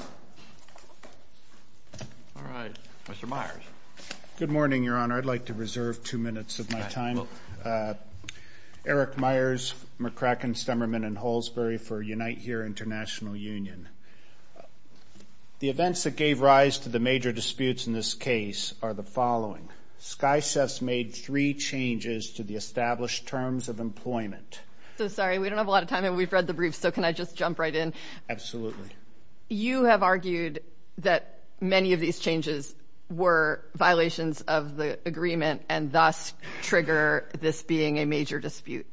All right, Mr. Myers. Good morning, Your Honor. I'd like to reserve two minutes of my time. Eric Myers, McCracken, Stemmerman, and Halsbury for UNITE HERE International Union. The events that gave rise to the major disputes in this case are the following. Sky Chefs made three changes to the established terms of employment. So, sorry, we don't have a lot of time, and we've read the briefs, so can I just jump right in? Absolutely. You have argued that many of these changes were violations of the agreement and thus trigger this being a major dispute.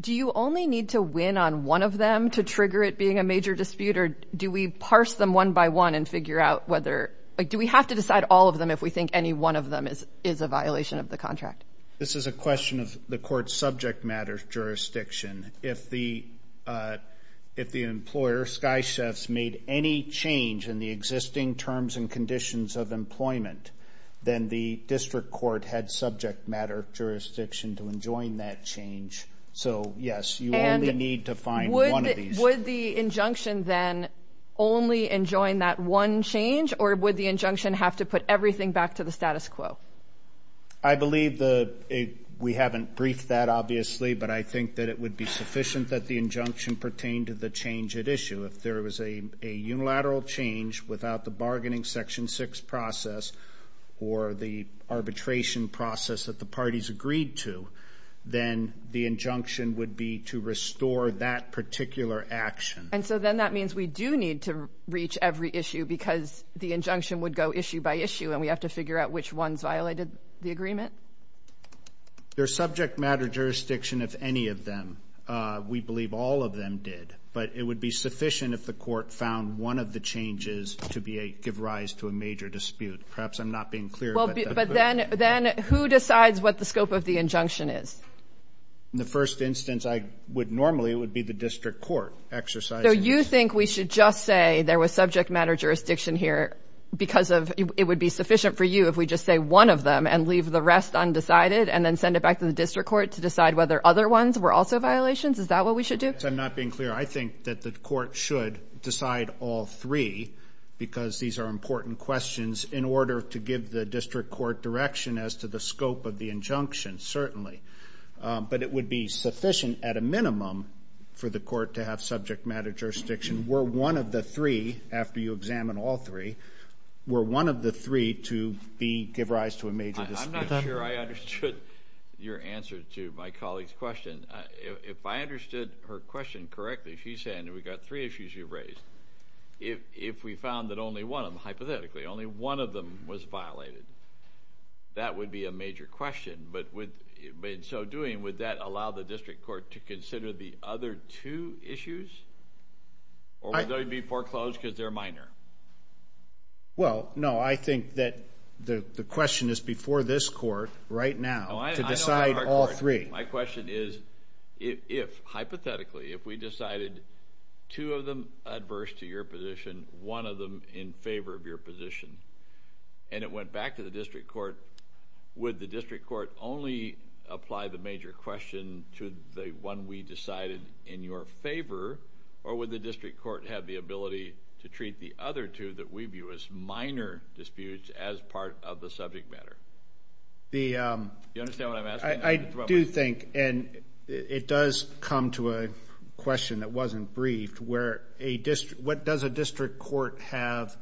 Do you only need to win on one of them to trigger it being a major dispute, or do we parse them one by one and figure out whether – do we have to decide all of them if we think any one of them is a violation of the contract? This is a question of the court's subject matter jurisdiction. If the employer, Sky Chefs, made any change in the existing terms and conditions of employment, then the district court had subject matter jurisdiction to enjoin that change. So, yes, you only need to find one of these. Would the injunction then only enjoin that one change, or would the injunction have to put everything back to the status quo? I believe the – we haven't briefed that, obviously, but I think that it would be sufficient that the injunction pertain to the change at issue. If there was a unilateral change without the bargaining Section 6 process or the arbitration process that the parties agreed to, then the injunction would be to restore that particular action. And so then that means we do need to reach every issue because the injunction would go issue by issue, and we have to figure out which ones violated the agreement? There's subject matter jurisdiction if any of them. We believe all of them did, but it would be sufficient if the court found one of the changes to give rise to a major dispute. Perhaps I'm not being clear. But then who decides what the scope of the injunction is? In the first instance, normally it would be the district court exercising it. So you think we should just say there was subject matter jurisdiction here because it would be sufficient for you if we just say one of them and leave the rest undecided and then send it back to the district court to decide whether other ones were also violations? Is that what we should do? I'm not being clear. I think that the court should decide all three because these are important questions in order to give the district court direction as to the scope of the injunction, certainly. But it would be sufficient at a minimum for the court to have subject matter jurisdiction were one of the three, after you examine all three, were one of the three to give rise to a major dispute. I'm not sure I understood your answer to my colleague's question. If I understood her question correctly, she's saying we've got three issues you've raised. If we found that only one of them, hypothetically, only one of them was violated, that would be a major question. But in so doing, would that allow the district court to consider the other two issues? Or would they be foreclosed because they're minor? Well, no. I think that the question is before this court right now to decide all three. My question is if, hypothetically, if we decided two of them adverse to your position, one of them in favor of your position, and it went back to the district court, would the district court only apply the major question to the one we decided in your favor, or would the district court have the ability to treat the other two that we view as minor disputes as part of the subject matter? Do you understand what I'm asking? I do think, and it does come to a question that wasn't briefed, what does a district court have,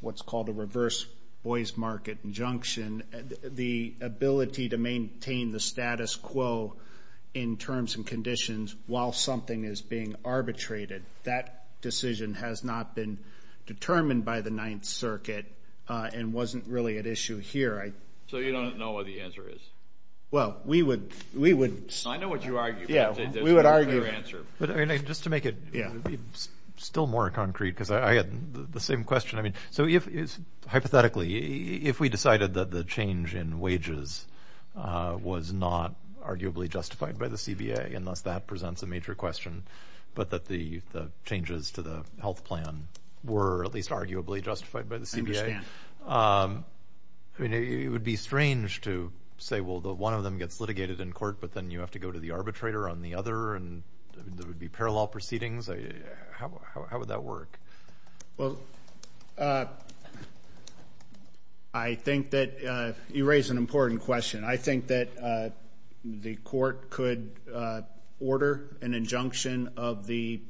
what's called a reverse boys market injunction, the ability to maintain the status quo in terms and conditions while something is being arbitrated? That decision has not been determined by the Ninth Circuit and wasn't really at issue here. So you don't know what the answer is? Well, we would. I know what you argue. Yeah, we would argue. Just to make it still more concrete, because I had the same question. So hypothetically, if we decided that the change in wages was not arguably justified by the CBA, and thus that presents a major question, but that the changes to the health plan were at least arguably justified by the CBA, it would be strange to say, well, one of them gets litigated in court, but then you have to go to the arbitrator on the other, and there would be parallel proceedings. How would that work? Well, I think that you raise an important question. I think that the court could order an injunction of the,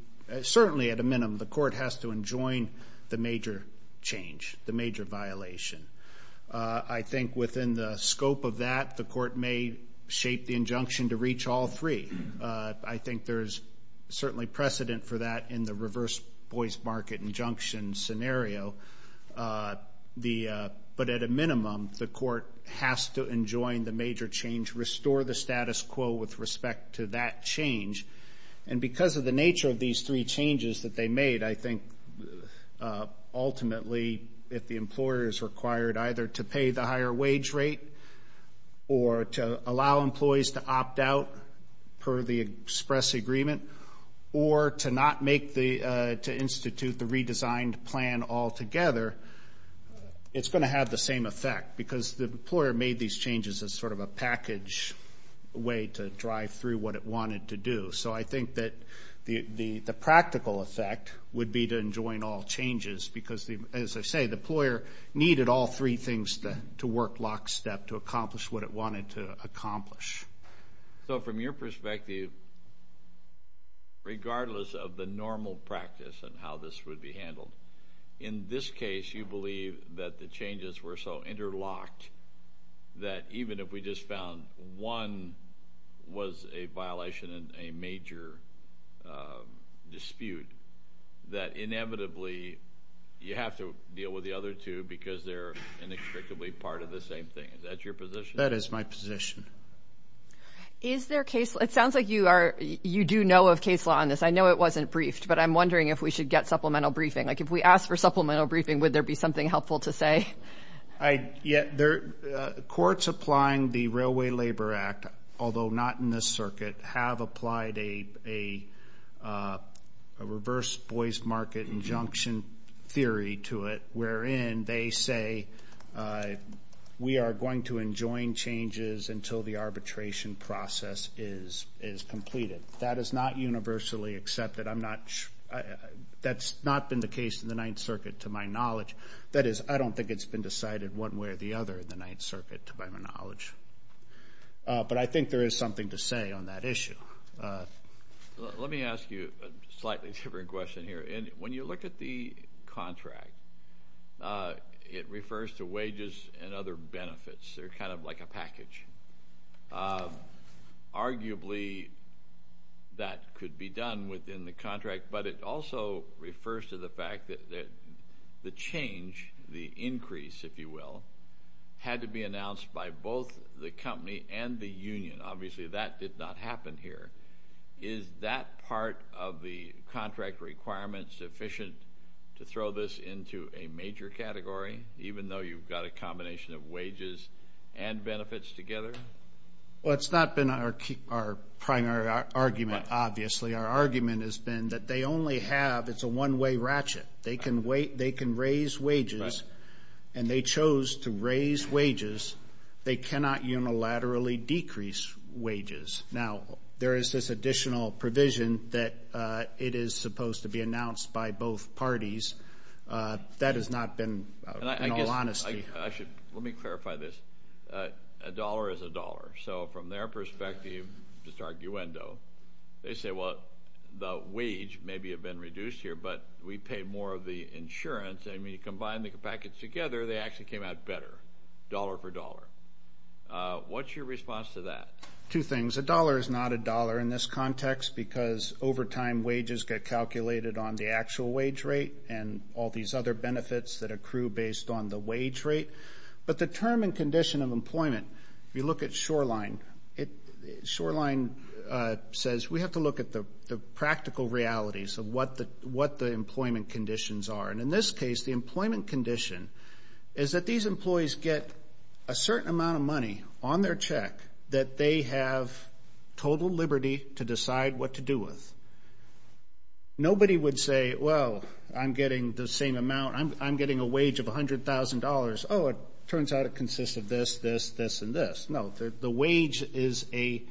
certainly at a minimum, the court has to enjoin the major change, the major violation. I think within the scope of that, the court may shape the injunction to reach all three. I think there is certainly precedent for that in the reverse boys market injunction scenario. But at a minimum, the court has to enjoin the major change, restore the status quo with respect to that change. And because of the nature of these three changes that they made, I think ultimately if the employer is required either to pay the higher wage rate or to allow employees to opt out per the express agreement, or to not make the, to institute the redesigned plan altogether, it's going to have the same effect, because the employer made these changes as sort of a package way to drive through what it wanted to do. So I think that the practical effect would be to enjoin all changes, because as I say, the employer needed all three things to work lockstep to accomplish what it wanted to accomplish. So from your perspective, regardless of the normal practice and how this would be handled, in this case, you believe that the changes were so interlocked that even if we just found one was a violation in a major dispute, that inevitably you have to deal with the other two because they're inextricably part of the same thing. Is that your position? That is my position. Is there case, it sounds like you are, you do know of case law on this. I know it wasn't briefed, but I'm wondering if we should get supplemental briefing. Like if we ask for supplemental briefing, would there be something helpful to say? Yeah. Courts applying the Railway Labor Act, although not in this circuit, have applied a reverse Boyce Market injunction theory to it, wherein they say we are going to enjoin changes until the arbitration process is completed. That is not universally accepted. I'm not, that's not been the case in the Ninth Circuit to my knowledge. That is, I don't think it's been decided one way or the other in the Ninth Circuit to my knowledge. But I think there is something to say on that issue. Let me ask you a slightly different question here. When you look at the contract, it refers to wages and other benefits. They're kind of like a package. Arguably, that could be done within the contract, but it also refers to the fact that the change, the increase, if you will, had to be announced by both the company and the union. Obviously, that did not happen here. Is that part of the contract requirement sufficient to throw this into a major category, even though you've got a combination of wages and benefits together? Well, it's not been our primary argument, obviously. Our argument has been that they only have, it's a one-way ratchet. They can raise wages, and they chose to raise wages. They cannot unilaterally decrease wages. Now, there is this additional provision that it is supposed to be announced by both parties. That has not been in all honesty. Actually, let me clarify this. A dollar is a dollar. So from their perspective, just arguendo, they say, well, the wage may have been reduced here, but we pay more of the insurance. And when you combine the packets together, they actually came out better, dollar for dollar. What's your response to that? Two things. A dollar is not a dollar in this context because over time, wages get calculated on the actual wage rate and all these other benefits that accrue based on the wage rate. But the term and condition of employment, if you look at Shoreline, Shoreline says we have to look at the practical realities of what the employment conditions are. And in this case, the employment condition is that these employees get a certain amount of money on their check that they have total liberty to decide what to do with. Nobody would say, well, I'm getting the same amount. I'm getting a wage of $100,000. Oh, it turns out it consists of this, this, this, and this. No, the wage is a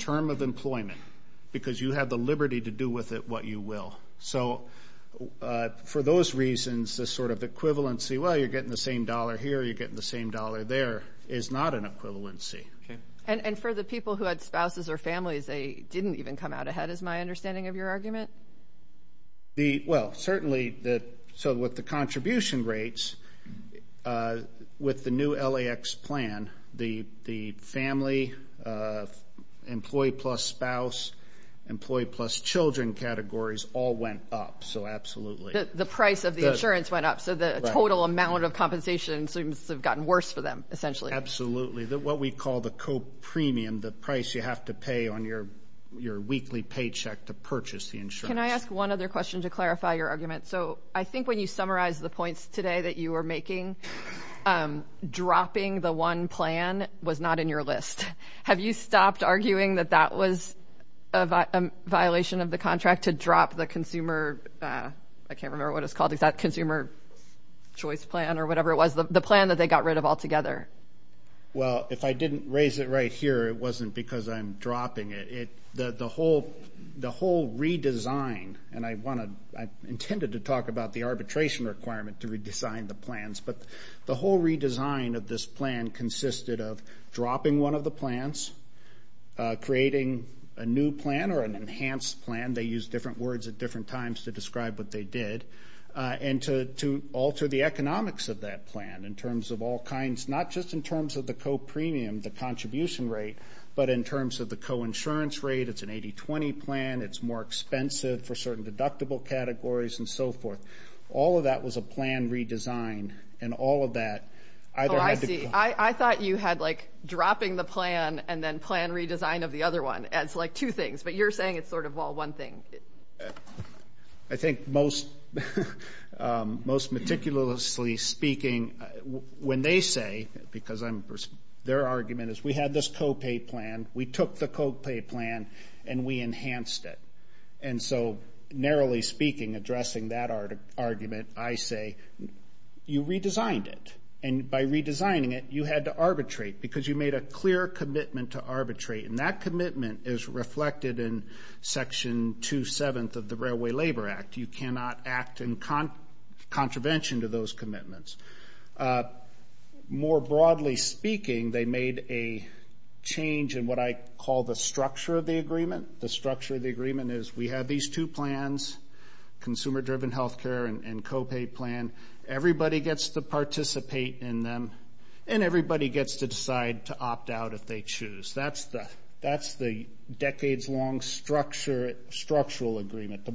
term of employment because you have the liberty to do with it what you will. So for those reasons, this sort of equivalency, well, you're getting the same dollar here, you're getting the same dollar there, is not an equivalency. And for the people who had spouses or families, they didn't even come out ahead is my understanding of your argument? Well, certainly, so with the contribution rates, with the new LAX plan, the family, employee plus spouse, employee plus children categories all went up, so absolutely. The price of the insurance went up. So the total amount of compensation seems to have gotten worse for them essentially. Absolutely. What we call the copremium, the price you have to pay on your weekly paycheck to purchase the insurance. Can I ask one other question to clarify your argument? So I think when you summarized the points today that you were making, dropping the one plan was not in your list. Have you stopped arguing that that was a violation of the contract to drop the consumer, I can't remember what it's called, the consumer choice plan or whatever it was, the plan that they got rid of altogether? Well, if I didn't raise it right here, it wasn't because I'm dropping it. The whole redesign, and I intended to talk about the arbitration requirement to redesign the plans, but the whole redesign of this plan consisted of dropping one of the plans, creating a new plan or an enhanced plan, they used different words at different times to describe what they did, and to alter the economics of that plan in terms of all kinds, not just in terms of the copremium, the contribution rate, but in terms of the coinsurance rate. It's an 80-20 plan. It's more expensive for certain deductible categories and so forth. All of that was a plan redesign, and all of that. Oh, I see. I thought you had like dropping the plan and then plan redesign of the other one as like two things, but you're saying it's sort of all one thing. I think most meticulously speaking, when they say, because their argument is we had this copay plan, we took the copay plan and we enhanced it. And so narrowly speaking, addressing that argument, I say you redesigned it, and by redesigning it you had to arbitrate because you made a clear commitment to arbitrate, and that commitment is reflected in Section 2-7 of the Railway Labor Act. You cannot act in contravention to those commitments. More broadly speaking, they made a change in what I call the structure of the agreement. The structure of the agreement is we have these two plans, consumer-driven health care and copay plan. Everybody gets to participate in them, and everybody gets to decide to opt out if they choose. That's the decades-long structural agreement.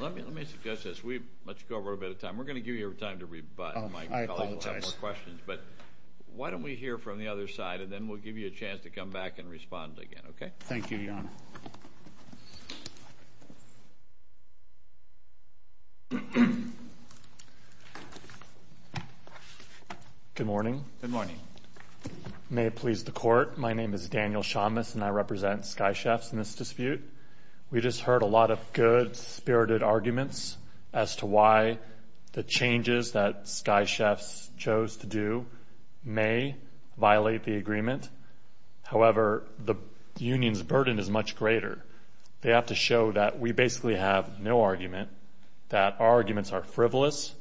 Let me suggest this. Let's go over a bit of time. We're going to give you time to rebut, and my colleagues will have more questions. I apologize. But why don't we hear from the other side, and then we'll give you a chance to come back and respond again, okay? Thank you, Your Honor. Good morning. Good morning. May it please the Court. My name is Daniel Shamas, and I represent Sky Chefs in this dispute. We just heard a lot of good-spirited arguments as to why the changes that Sky Chefs chose to do may violate the agreement. However, the union's burden is much greater. They have to show that we basically have no argument, that our arguments are frivolous,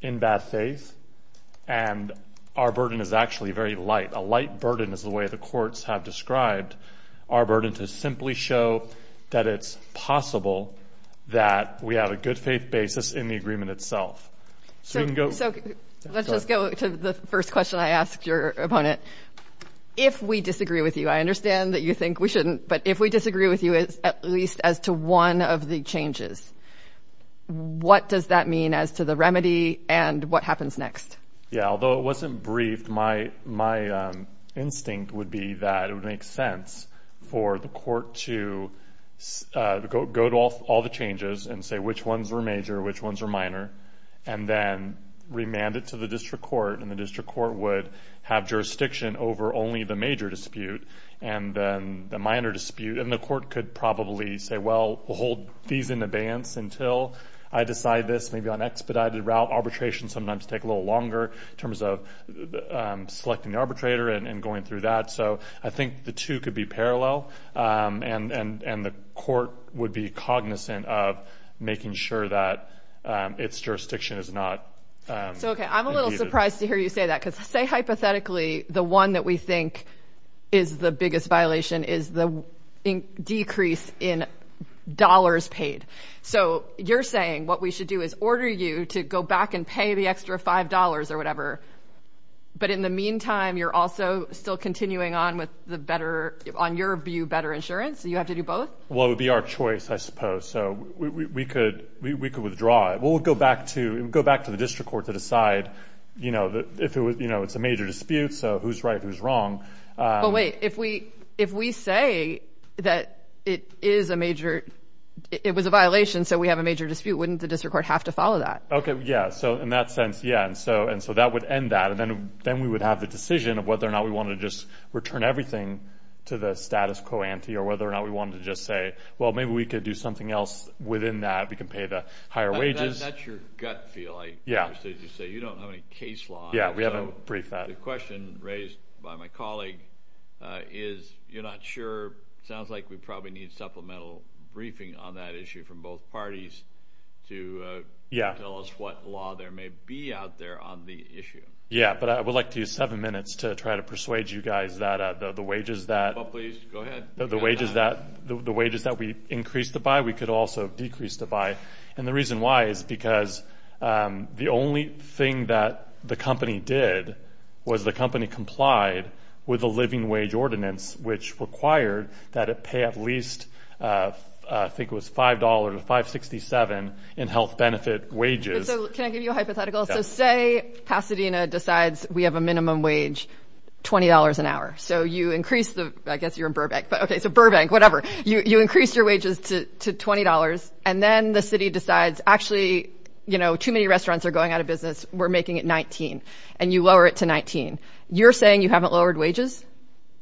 in bad faith, and our burden is actually very light. A light burden is the way the courts have described our burden to simply show that it's possible that we have a good-faith basis in the agreement itself. So let's just go to the first question I asked your opponent. If we disagree with you, I understand that you think we shouldn't, but if we disagree with you at least as to one of the changes, what does that mean as to the remedy and what happens next? Yeah, although it wasn't briefed, my instinct would be that it would make sense for the court to go to all the changes and say which ones were major, which ones were minor, and then remand it to the district court, and the district court would have jurisdiction over only the major dispute and then the minor dispute, and the court could probably say, well, we'll hold these in abeyance until I decide this. This may be on an expedited route. Arbitration sometimes takes a little longer in terms of selecting the arbitrator and going through that. So I think the two could be parallel, and the court would be cognizant of making sure that its jurisdiction is not impeded. So, okay, I'm a little surprised to hear you say that because, say, hypothetically, the one that we think is the biggest violation is the decrease in dollars paid. So you're saying what we should do is order you to go back and pay the extra $5 or whatever, but in the meantime, you're also still continuing on with the better, on your view, better insurance? You have to do both? Well, it would be our choice, I suppose. So we could withdraw it. We'll go back to the district court to decide if it's a major dispute, so who's right, who's wrong. But wait, if we say that it is a major, it was a violation, so we have a major dispute, wouldn't the district court have to follow that? Okay, yeah, so in that sense, yeah, and so that would end that, and then we would have the decision of whether or not we wanted to just return everything to the status quo ante or whether or not we wanted to just say, well, maybe we could do something else within that. We could pay the higher wages. That's your gut feel. I understand you say you don't have any case law. Yeah, we haven't briefed that. I had a question raised by my colleague. You're not sure, it sounds like we probably need supplemental briefing on that issue from both parties to tell us what law there may be out there on the issue. Yeah, but I would like to use seven minutes to try to persuade you guys that the wages that we increased the buy, we could also decrease the buy, and the reason why is because the only thing that the company did was the company complied with a living wage ordinance, which required that it pay at least, I think it was $5 to $5.67 in health benefit wages. Can I give you a hypothetical? So say Pasadena decides we have a minimum wage, $20 an hour, so you increase the, I guess you're in Burbank, but okay, so Burbank, whatever. You increase your wages to $20, and then the city decides actually, you know, too many restaurants are going out of business. We're making it $19, and you lower it to $19. You're saying you haven't lowered wages?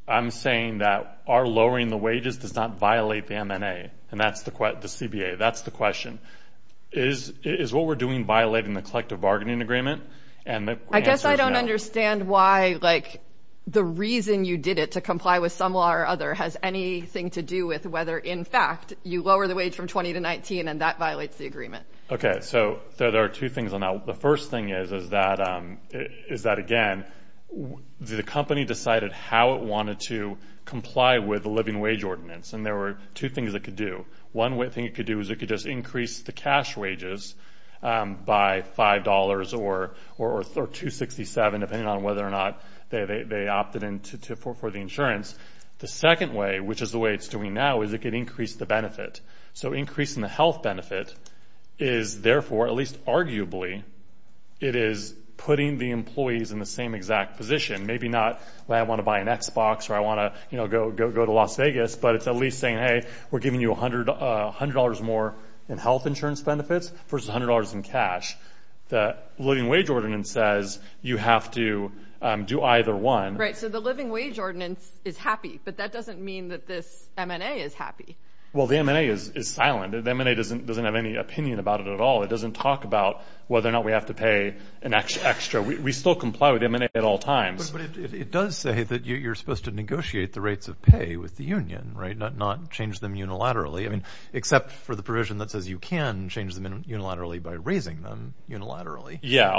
I'm saying that our lowering the wages does not violate the MNA, and that's the CBA. That's the question. Is what we're doing violating the collective bargaining agreement? I guess I don't understand why, like, the reason you did it to comply with some law or other has anything to do with whether, in fact, you lower the wage from $20 to $19, and that violates the agreement. Okay, so there are two things on that. The first thing is that, again, the company decided how it wanted to comply with the living wage ordinance, and there were two things it could do. One thing it could do is it could just increase the cash wages by $5 or $2.67, depending on whether or not they opted in for the insurance. The second way, which is the way it's doing now, is it could increase the benefit. So increasing the health benefit is, therefore, at least arguably, it is putting the employees in the same exact position. Maybe not, well, I want to buy an Xbox, or I want to, you know, go to Las Vegas, but it's at least saying, hey, we're giving you $100 more in health insurance benefits versus $100 in cash. The living wage ordinance says you have to do either one. Right, so the living wage ordinance is happy, but that doesn't mean that this M&A is happy. Well, the M&A is silent. The M&A doesn't have any opinion about it at all. It doesn't talk about whether or not we have to pay an extra. We still comply with the M&A at all times. But it does say that you're supposed to negotiate the rates of pay with the union, right, not change them unilaterally. I mean, except for the provision that says you can change them unilaterally by raising them unilaterally. Yeah,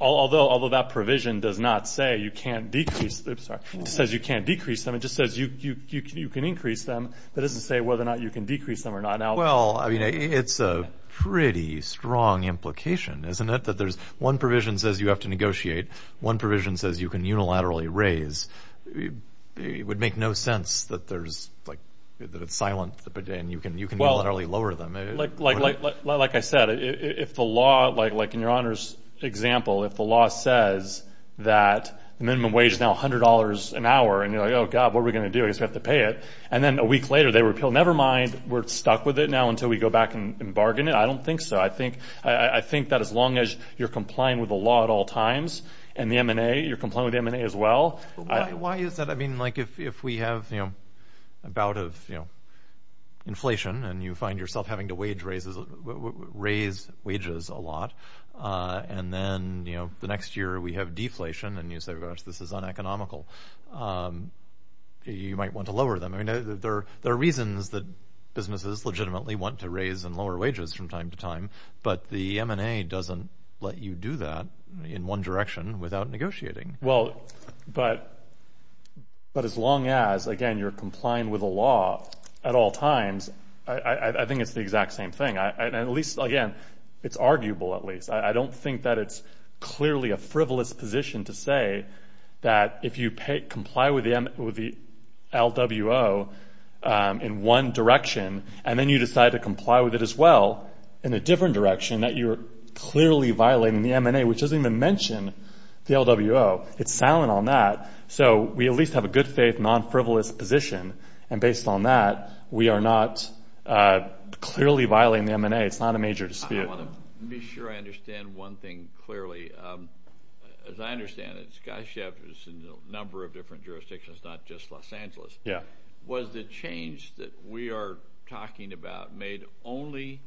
although that provision does not say you can't decrease, it says you can't decrease them, it just says you can increase them, but it doesn't say whether or not you can decrease them or not. Well, I mean, it's a pretty strong implication, isn't it, that there's one provision says you have to negotiate, one provision says you can unilaterally raise. It would make no sense that it's silent and you can unilaterally lower them. Like I said, if the law, like in your Honor's example, if the law says that the minimum wage is now $100 an hour, and you're like, oh, God, what are we going to do? I guess we have to pay it. And then a week later they repeal, never mind, we're stuck with it now until we go back and bargain it. I don't think so. I think that as long as you're complying with the law at all times and the M&A, you're complying with the M&A as well. Why is that? I mean, like if we have a bout of inflation and you find yourself having to raise wages a lot, and then the next year we have deflation and you say, gosh, this is uneconomical, you might want to lower them. There are reasons that businesses legitimately want to raise and lower wages from time to time, but the M&A doesn't let you do that in one direction without negotiating. Well, but as long as, again, you're complying with the law at all times, I think it's the exact same thing. At least, again, it's arguable at least. I don't think that it's clearly a frivolous position to say that if you comply with the LWO in one direction and then you decide to comply with it as well in a different direction, that you're clearly violating the M&A, which doesn't even mention the LWO. It's silent on that. So we at least have a good-faith, non-frivolous position, and based on that, we are not clearly violating the M&A. It's not a major dispute. I want to be sure I understand one thing clearly. As I understand it, SkyShift is in a number of different jurisdictions, not just Los Angeles. Yeah. Was the change that we are talking about made only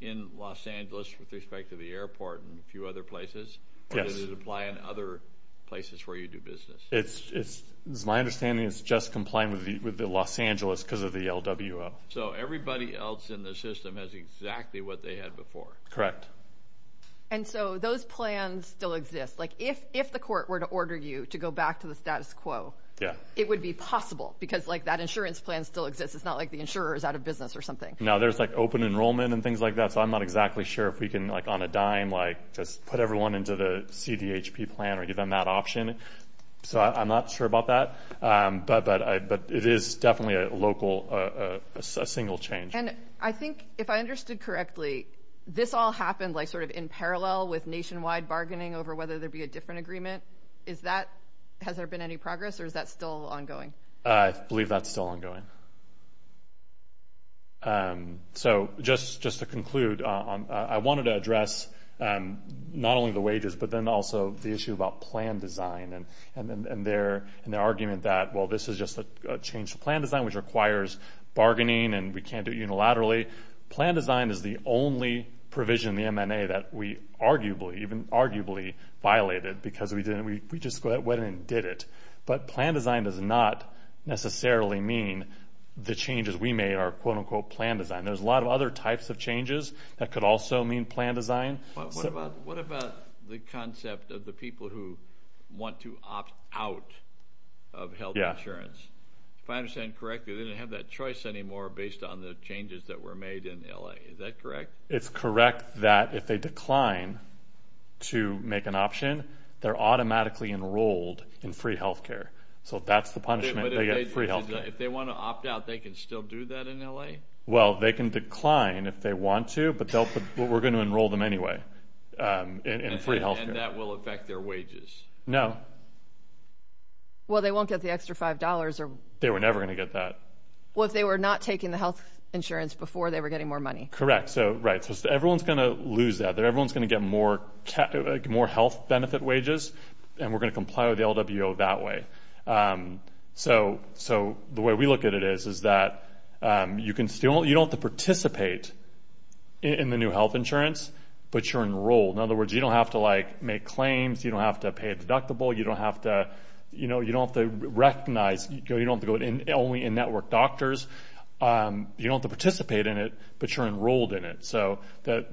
in Los Angeles with respect to the airport and a few other places? Yes. Or does it apply in other places where you do business? It's my understanding it's just complying with the Los Angeles because of the LWO. So everybody else in the system has exactly what they had before? Correct. And so those plans still exist? Like, if the court were to order you to go back to the status quo, it would be possible because, like, that insurance plan still exists. It's not like the insurer is out of business or something. No, there's, like, open enrollment and things like that, so I'm not exactly sure if we can, like, on a dime, like, just put everyone into the CDHP plan or give them that option. So I'm not sure about that, but it is definitely a local, a single change. And I think, if I understood correctly, this all happened, like, sort of in parallel with nationwide bargaining over whether there be a different agreement. Is that, has there been any progress, or is that still ongoing? I believe that's still ongoing. So just to conclude, I wanted to address not only the wages, but then also the issue about plan design and their argument that, well, this is just a change to plan design, which requires bargaining, and we can't do it unilaterally. Plan design is the only provision in the MNA that we arguably, even arguably violated because we just went in and did it. But plan design does not necessarily mean the changes we made are, quote, unquote, plan design. There's a lot of other types of changes that could also mean plan design. What about the concept of the people who want to opt out of health insurance? If I understand correctly, they didn't have that choice anymore based on the changes that were made in L.A. Is that correct? It's correct that if they decline to make an option, they're automatically enrolled in free health care. So that's the punishment. They get free health care. But if they want to opt out, they can still do that in L.A.? Well, they can decline if they want to, but we're going to enroll them anyway in free health care. And that will affect their wages? No. Well, they won't get the extra $5. They were never going to get that. Well, if they were not taking the health insurance before, they were getting more money. Correct. Right. So everyone's going to lose that. Everyone's going to get more health benefit wages, and we're going to comply with the LWO that way. So the way we look at it is that you don't have to participate in the new health insurance, but you're enrolled. In other words, you don't have to, like, make claims. You don't have to pay a deductible. You don't have to recognize. You don't have to go only in network doctors. You don't have to participate in it, but you're enrolled in it. So that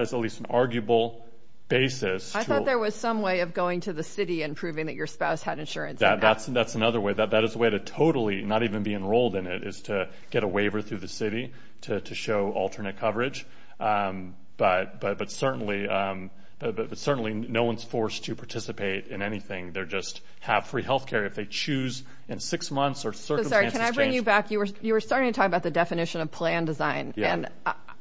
is at least an arguable basis. I thought there was some way of going to the city and proving that your spouse had insurance. That's another way. That is a way to totally not even be enrolled in it is to get a waiver through the city to show alternate coverage. But certainly no one's forced to participate in anything. They just have free health care if they choose in six months or circumstances change. In fact, you were starting to talk about the definition of plan design. And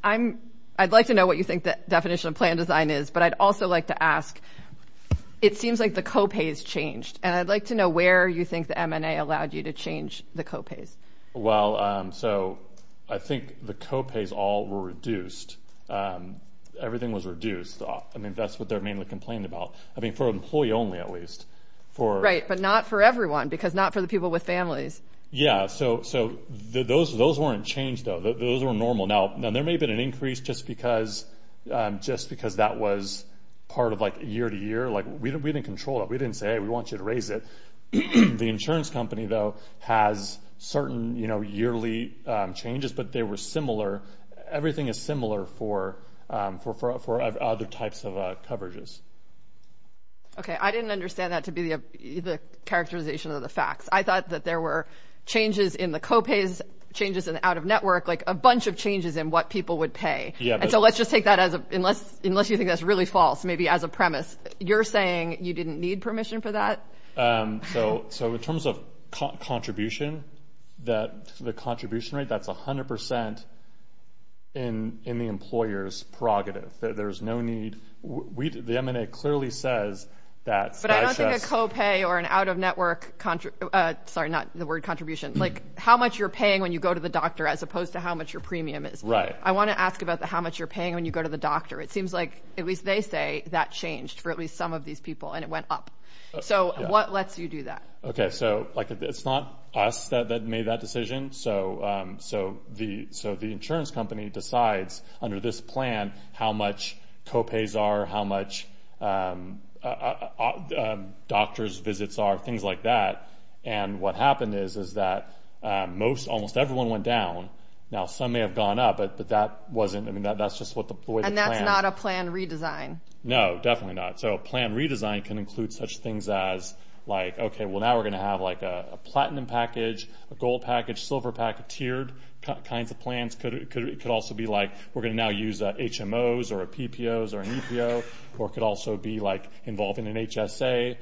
I'd like to know what you think the definition of plan design is, but I'd also like to ask, it seems like the co-pays changed. And I'd like to know where you think the MNA allowed you to change the co-pays. Well, so I think the co-pays all were reduced. Everything was reduced. I mean, that's what they're mainly complaining about. I mean, for employee only at least. Right, but not for everyone because not for the people with families. Yeah, so those weren't changed, though. Those were normal. Now, there may have been an increase just because that was part of, like, year to year. Like, we didn't control it. We didn't say, hey, we want you to raise it. The insurance company, though, has certain yearly changes, but they were similar. Everything is similar for other types of coverages. Okay, I didn't understand that to be the characterization of the facts. I thought that there were changes in the co-pays, changes in the out-of-network, like a bunch of changes in what people would pay. And so let's just take that unless you think that's really false, maybe as a premise. You're saying you didn't need permission for that? So in terms of contribution, the contribution rate, that's 100% in the employer's prerogative. There's no need. The MNA clearly says that. But I don't think a co-pay or an out-of-network, sorry, not the word contribution, like how much you're paying when you go to the doctor as opposed to how much your premium is. Right. I want to ask about how much you're paying when you go to the doctor. It seems like at least they say that changed for at least some of these people, and it went up. So what lets you do that? Okay, so, like, it's not us that made that decision. So the insurance company decides under this plan how much co-pays are, how much doctor's visits are, things like that. And what happened is that most, almost everyone went down. Now, some may have gone up, but that wasn't, I mean, that's just the way the plan. And that's not a plan redesign. No, definitely not. So a plan redesign can include such things as, like, okay, well, now we're going to have, like, a platinum package, a gold package, silver package, tiered kinds of plans. It could also be, like, we're going to now use HMOs or PPOs or an EPO. Or it could also be, like, involving an HSA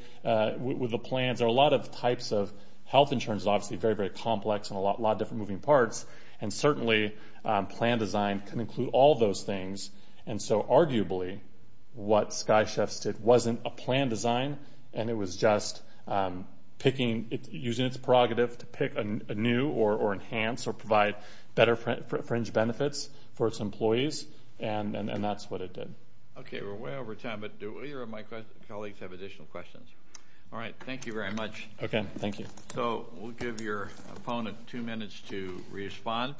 with the plans. There are a lot of types of health insurance. It's obviously very, very complex and a lot of different moving parts. And certainly plan design can include all those things. And so arguably what Sky Chefs did wasn't a plan design, and it was just picking, using its prerogative to pick a new or enhance or provide better fringe benefits for its employees. And that's what it did. Okay, we're way over time, but do either of my colleagues have additional questions? All right, thank you very much. Okay, thank you. So we'll give your opponent two minutes to respond.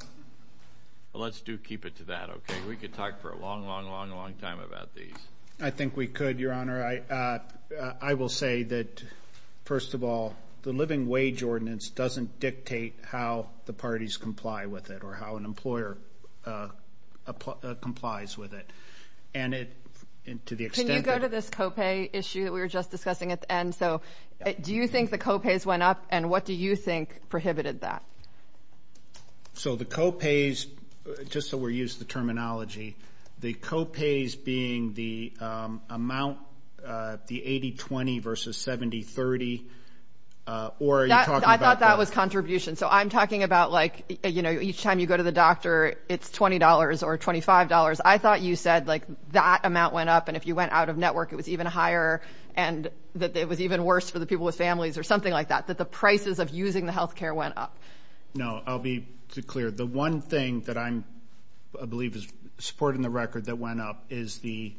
Let's do keep it to that, okay? We could talk for a long, long, long, long time about these. I think we could, Your Honor. I will say that, first of all, the living wage ordinance doesn't dictate how the parties comply with it or how an employer complies with it. Can you go to this co-pay issue that we were just discussing at the end? So do you think the co-pays went up, and what do you think prohibited that? So the co-pays, just so we're using the terminology, the co-pays being the amount, the 80-20 versus 70-30, or are you talking about that? I thought that was contribution. So I'm talking about, like, you know, each time you go to the doctor, it's $20 or $25. I thought you said, like, that amount went up, and if you went out of network it was even higher and that it was even worse for the people with families or something like that, that the prices of using the health care went up. No, I'll be clear. The one thing that I believe is supporting the record that went up is the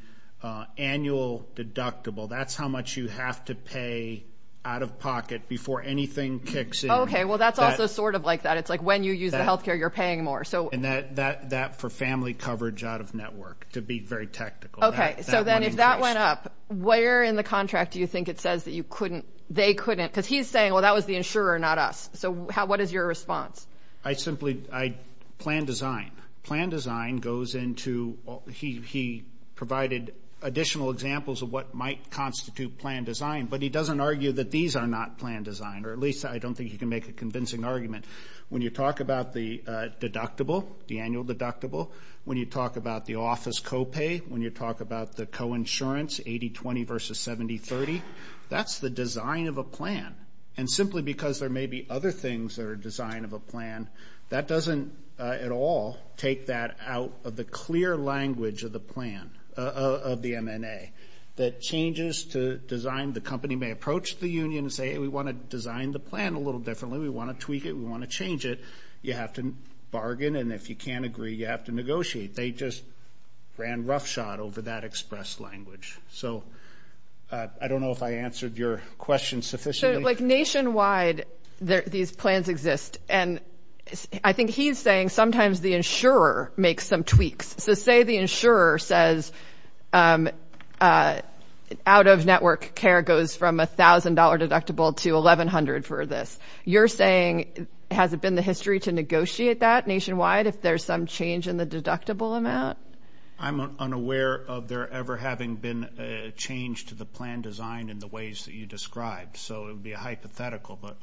annual deductible. That's how much you have to pay out of pocket before anything kicks in. Okay, well, that's also sort of like that. It's like when you use the health care, you're paying more. And that for family coverage out of network, to be very technical. Okay, so then if that went up, where in the contract do you think it says that you couldn't, they couldn't, because he's saying, well, that was the insurer, not us. So what is your response? I simply, I, plan design. Plan design goes into, he provided additional examples of what might constitute plan design, but he doesn't argue that these are not plan design, or at least I don't think he can make a convincing argument. When you talk about the deductible, the annual deductible, when you talk about the office copay, when you talk about the coinsurance, 80-20 versus 70-30, that's the design of a plan. And simply because there may be other things that are design of a plan, that doesn't at all take that out of the clear language of the plan, of the MNA. That changes to design, the company may approach the union and say, we want to design the plan a little differently, we want to tweak it, we want to change it. You have to bargain, and if you can't agree, you have to negotiate. They just ran roughshod over that express language. So I don't know if I answered your question sufficiently. So like nationwide, these plans exist. And I think he's saying sometimes the insurer makes some tweaks. So say the insurer says out-of-network care goes from $1,000 deductible to $1,100 for this. You're saying has it been the history to negotiate that nationwide, if there's some change in the deductible amount? I'm unaware of there ever having been a change to the plan design in the ways that you described. So it would be a hypothetical. But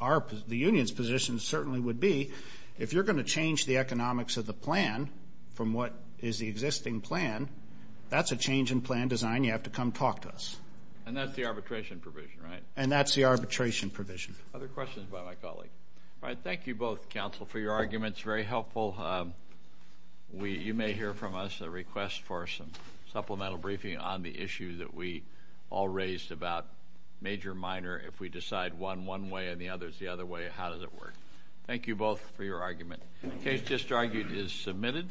the union's position certainly would be, if you're going to change the economics of the plan from what is the existing plan, that's a change in plan design, you have to come talk to us. And that's the arbitration provision, right? And that's the arbitration provision. Other questions by my colleague? All right, thank you both, counsel, for your arguments, very helpful. You may hear from us a request for some supplemental briefing on the issue that we all raised about major, minor. If we decide one one way and the other is the other way, how does it work? Thank you both for your argument. The case just argued is submitted.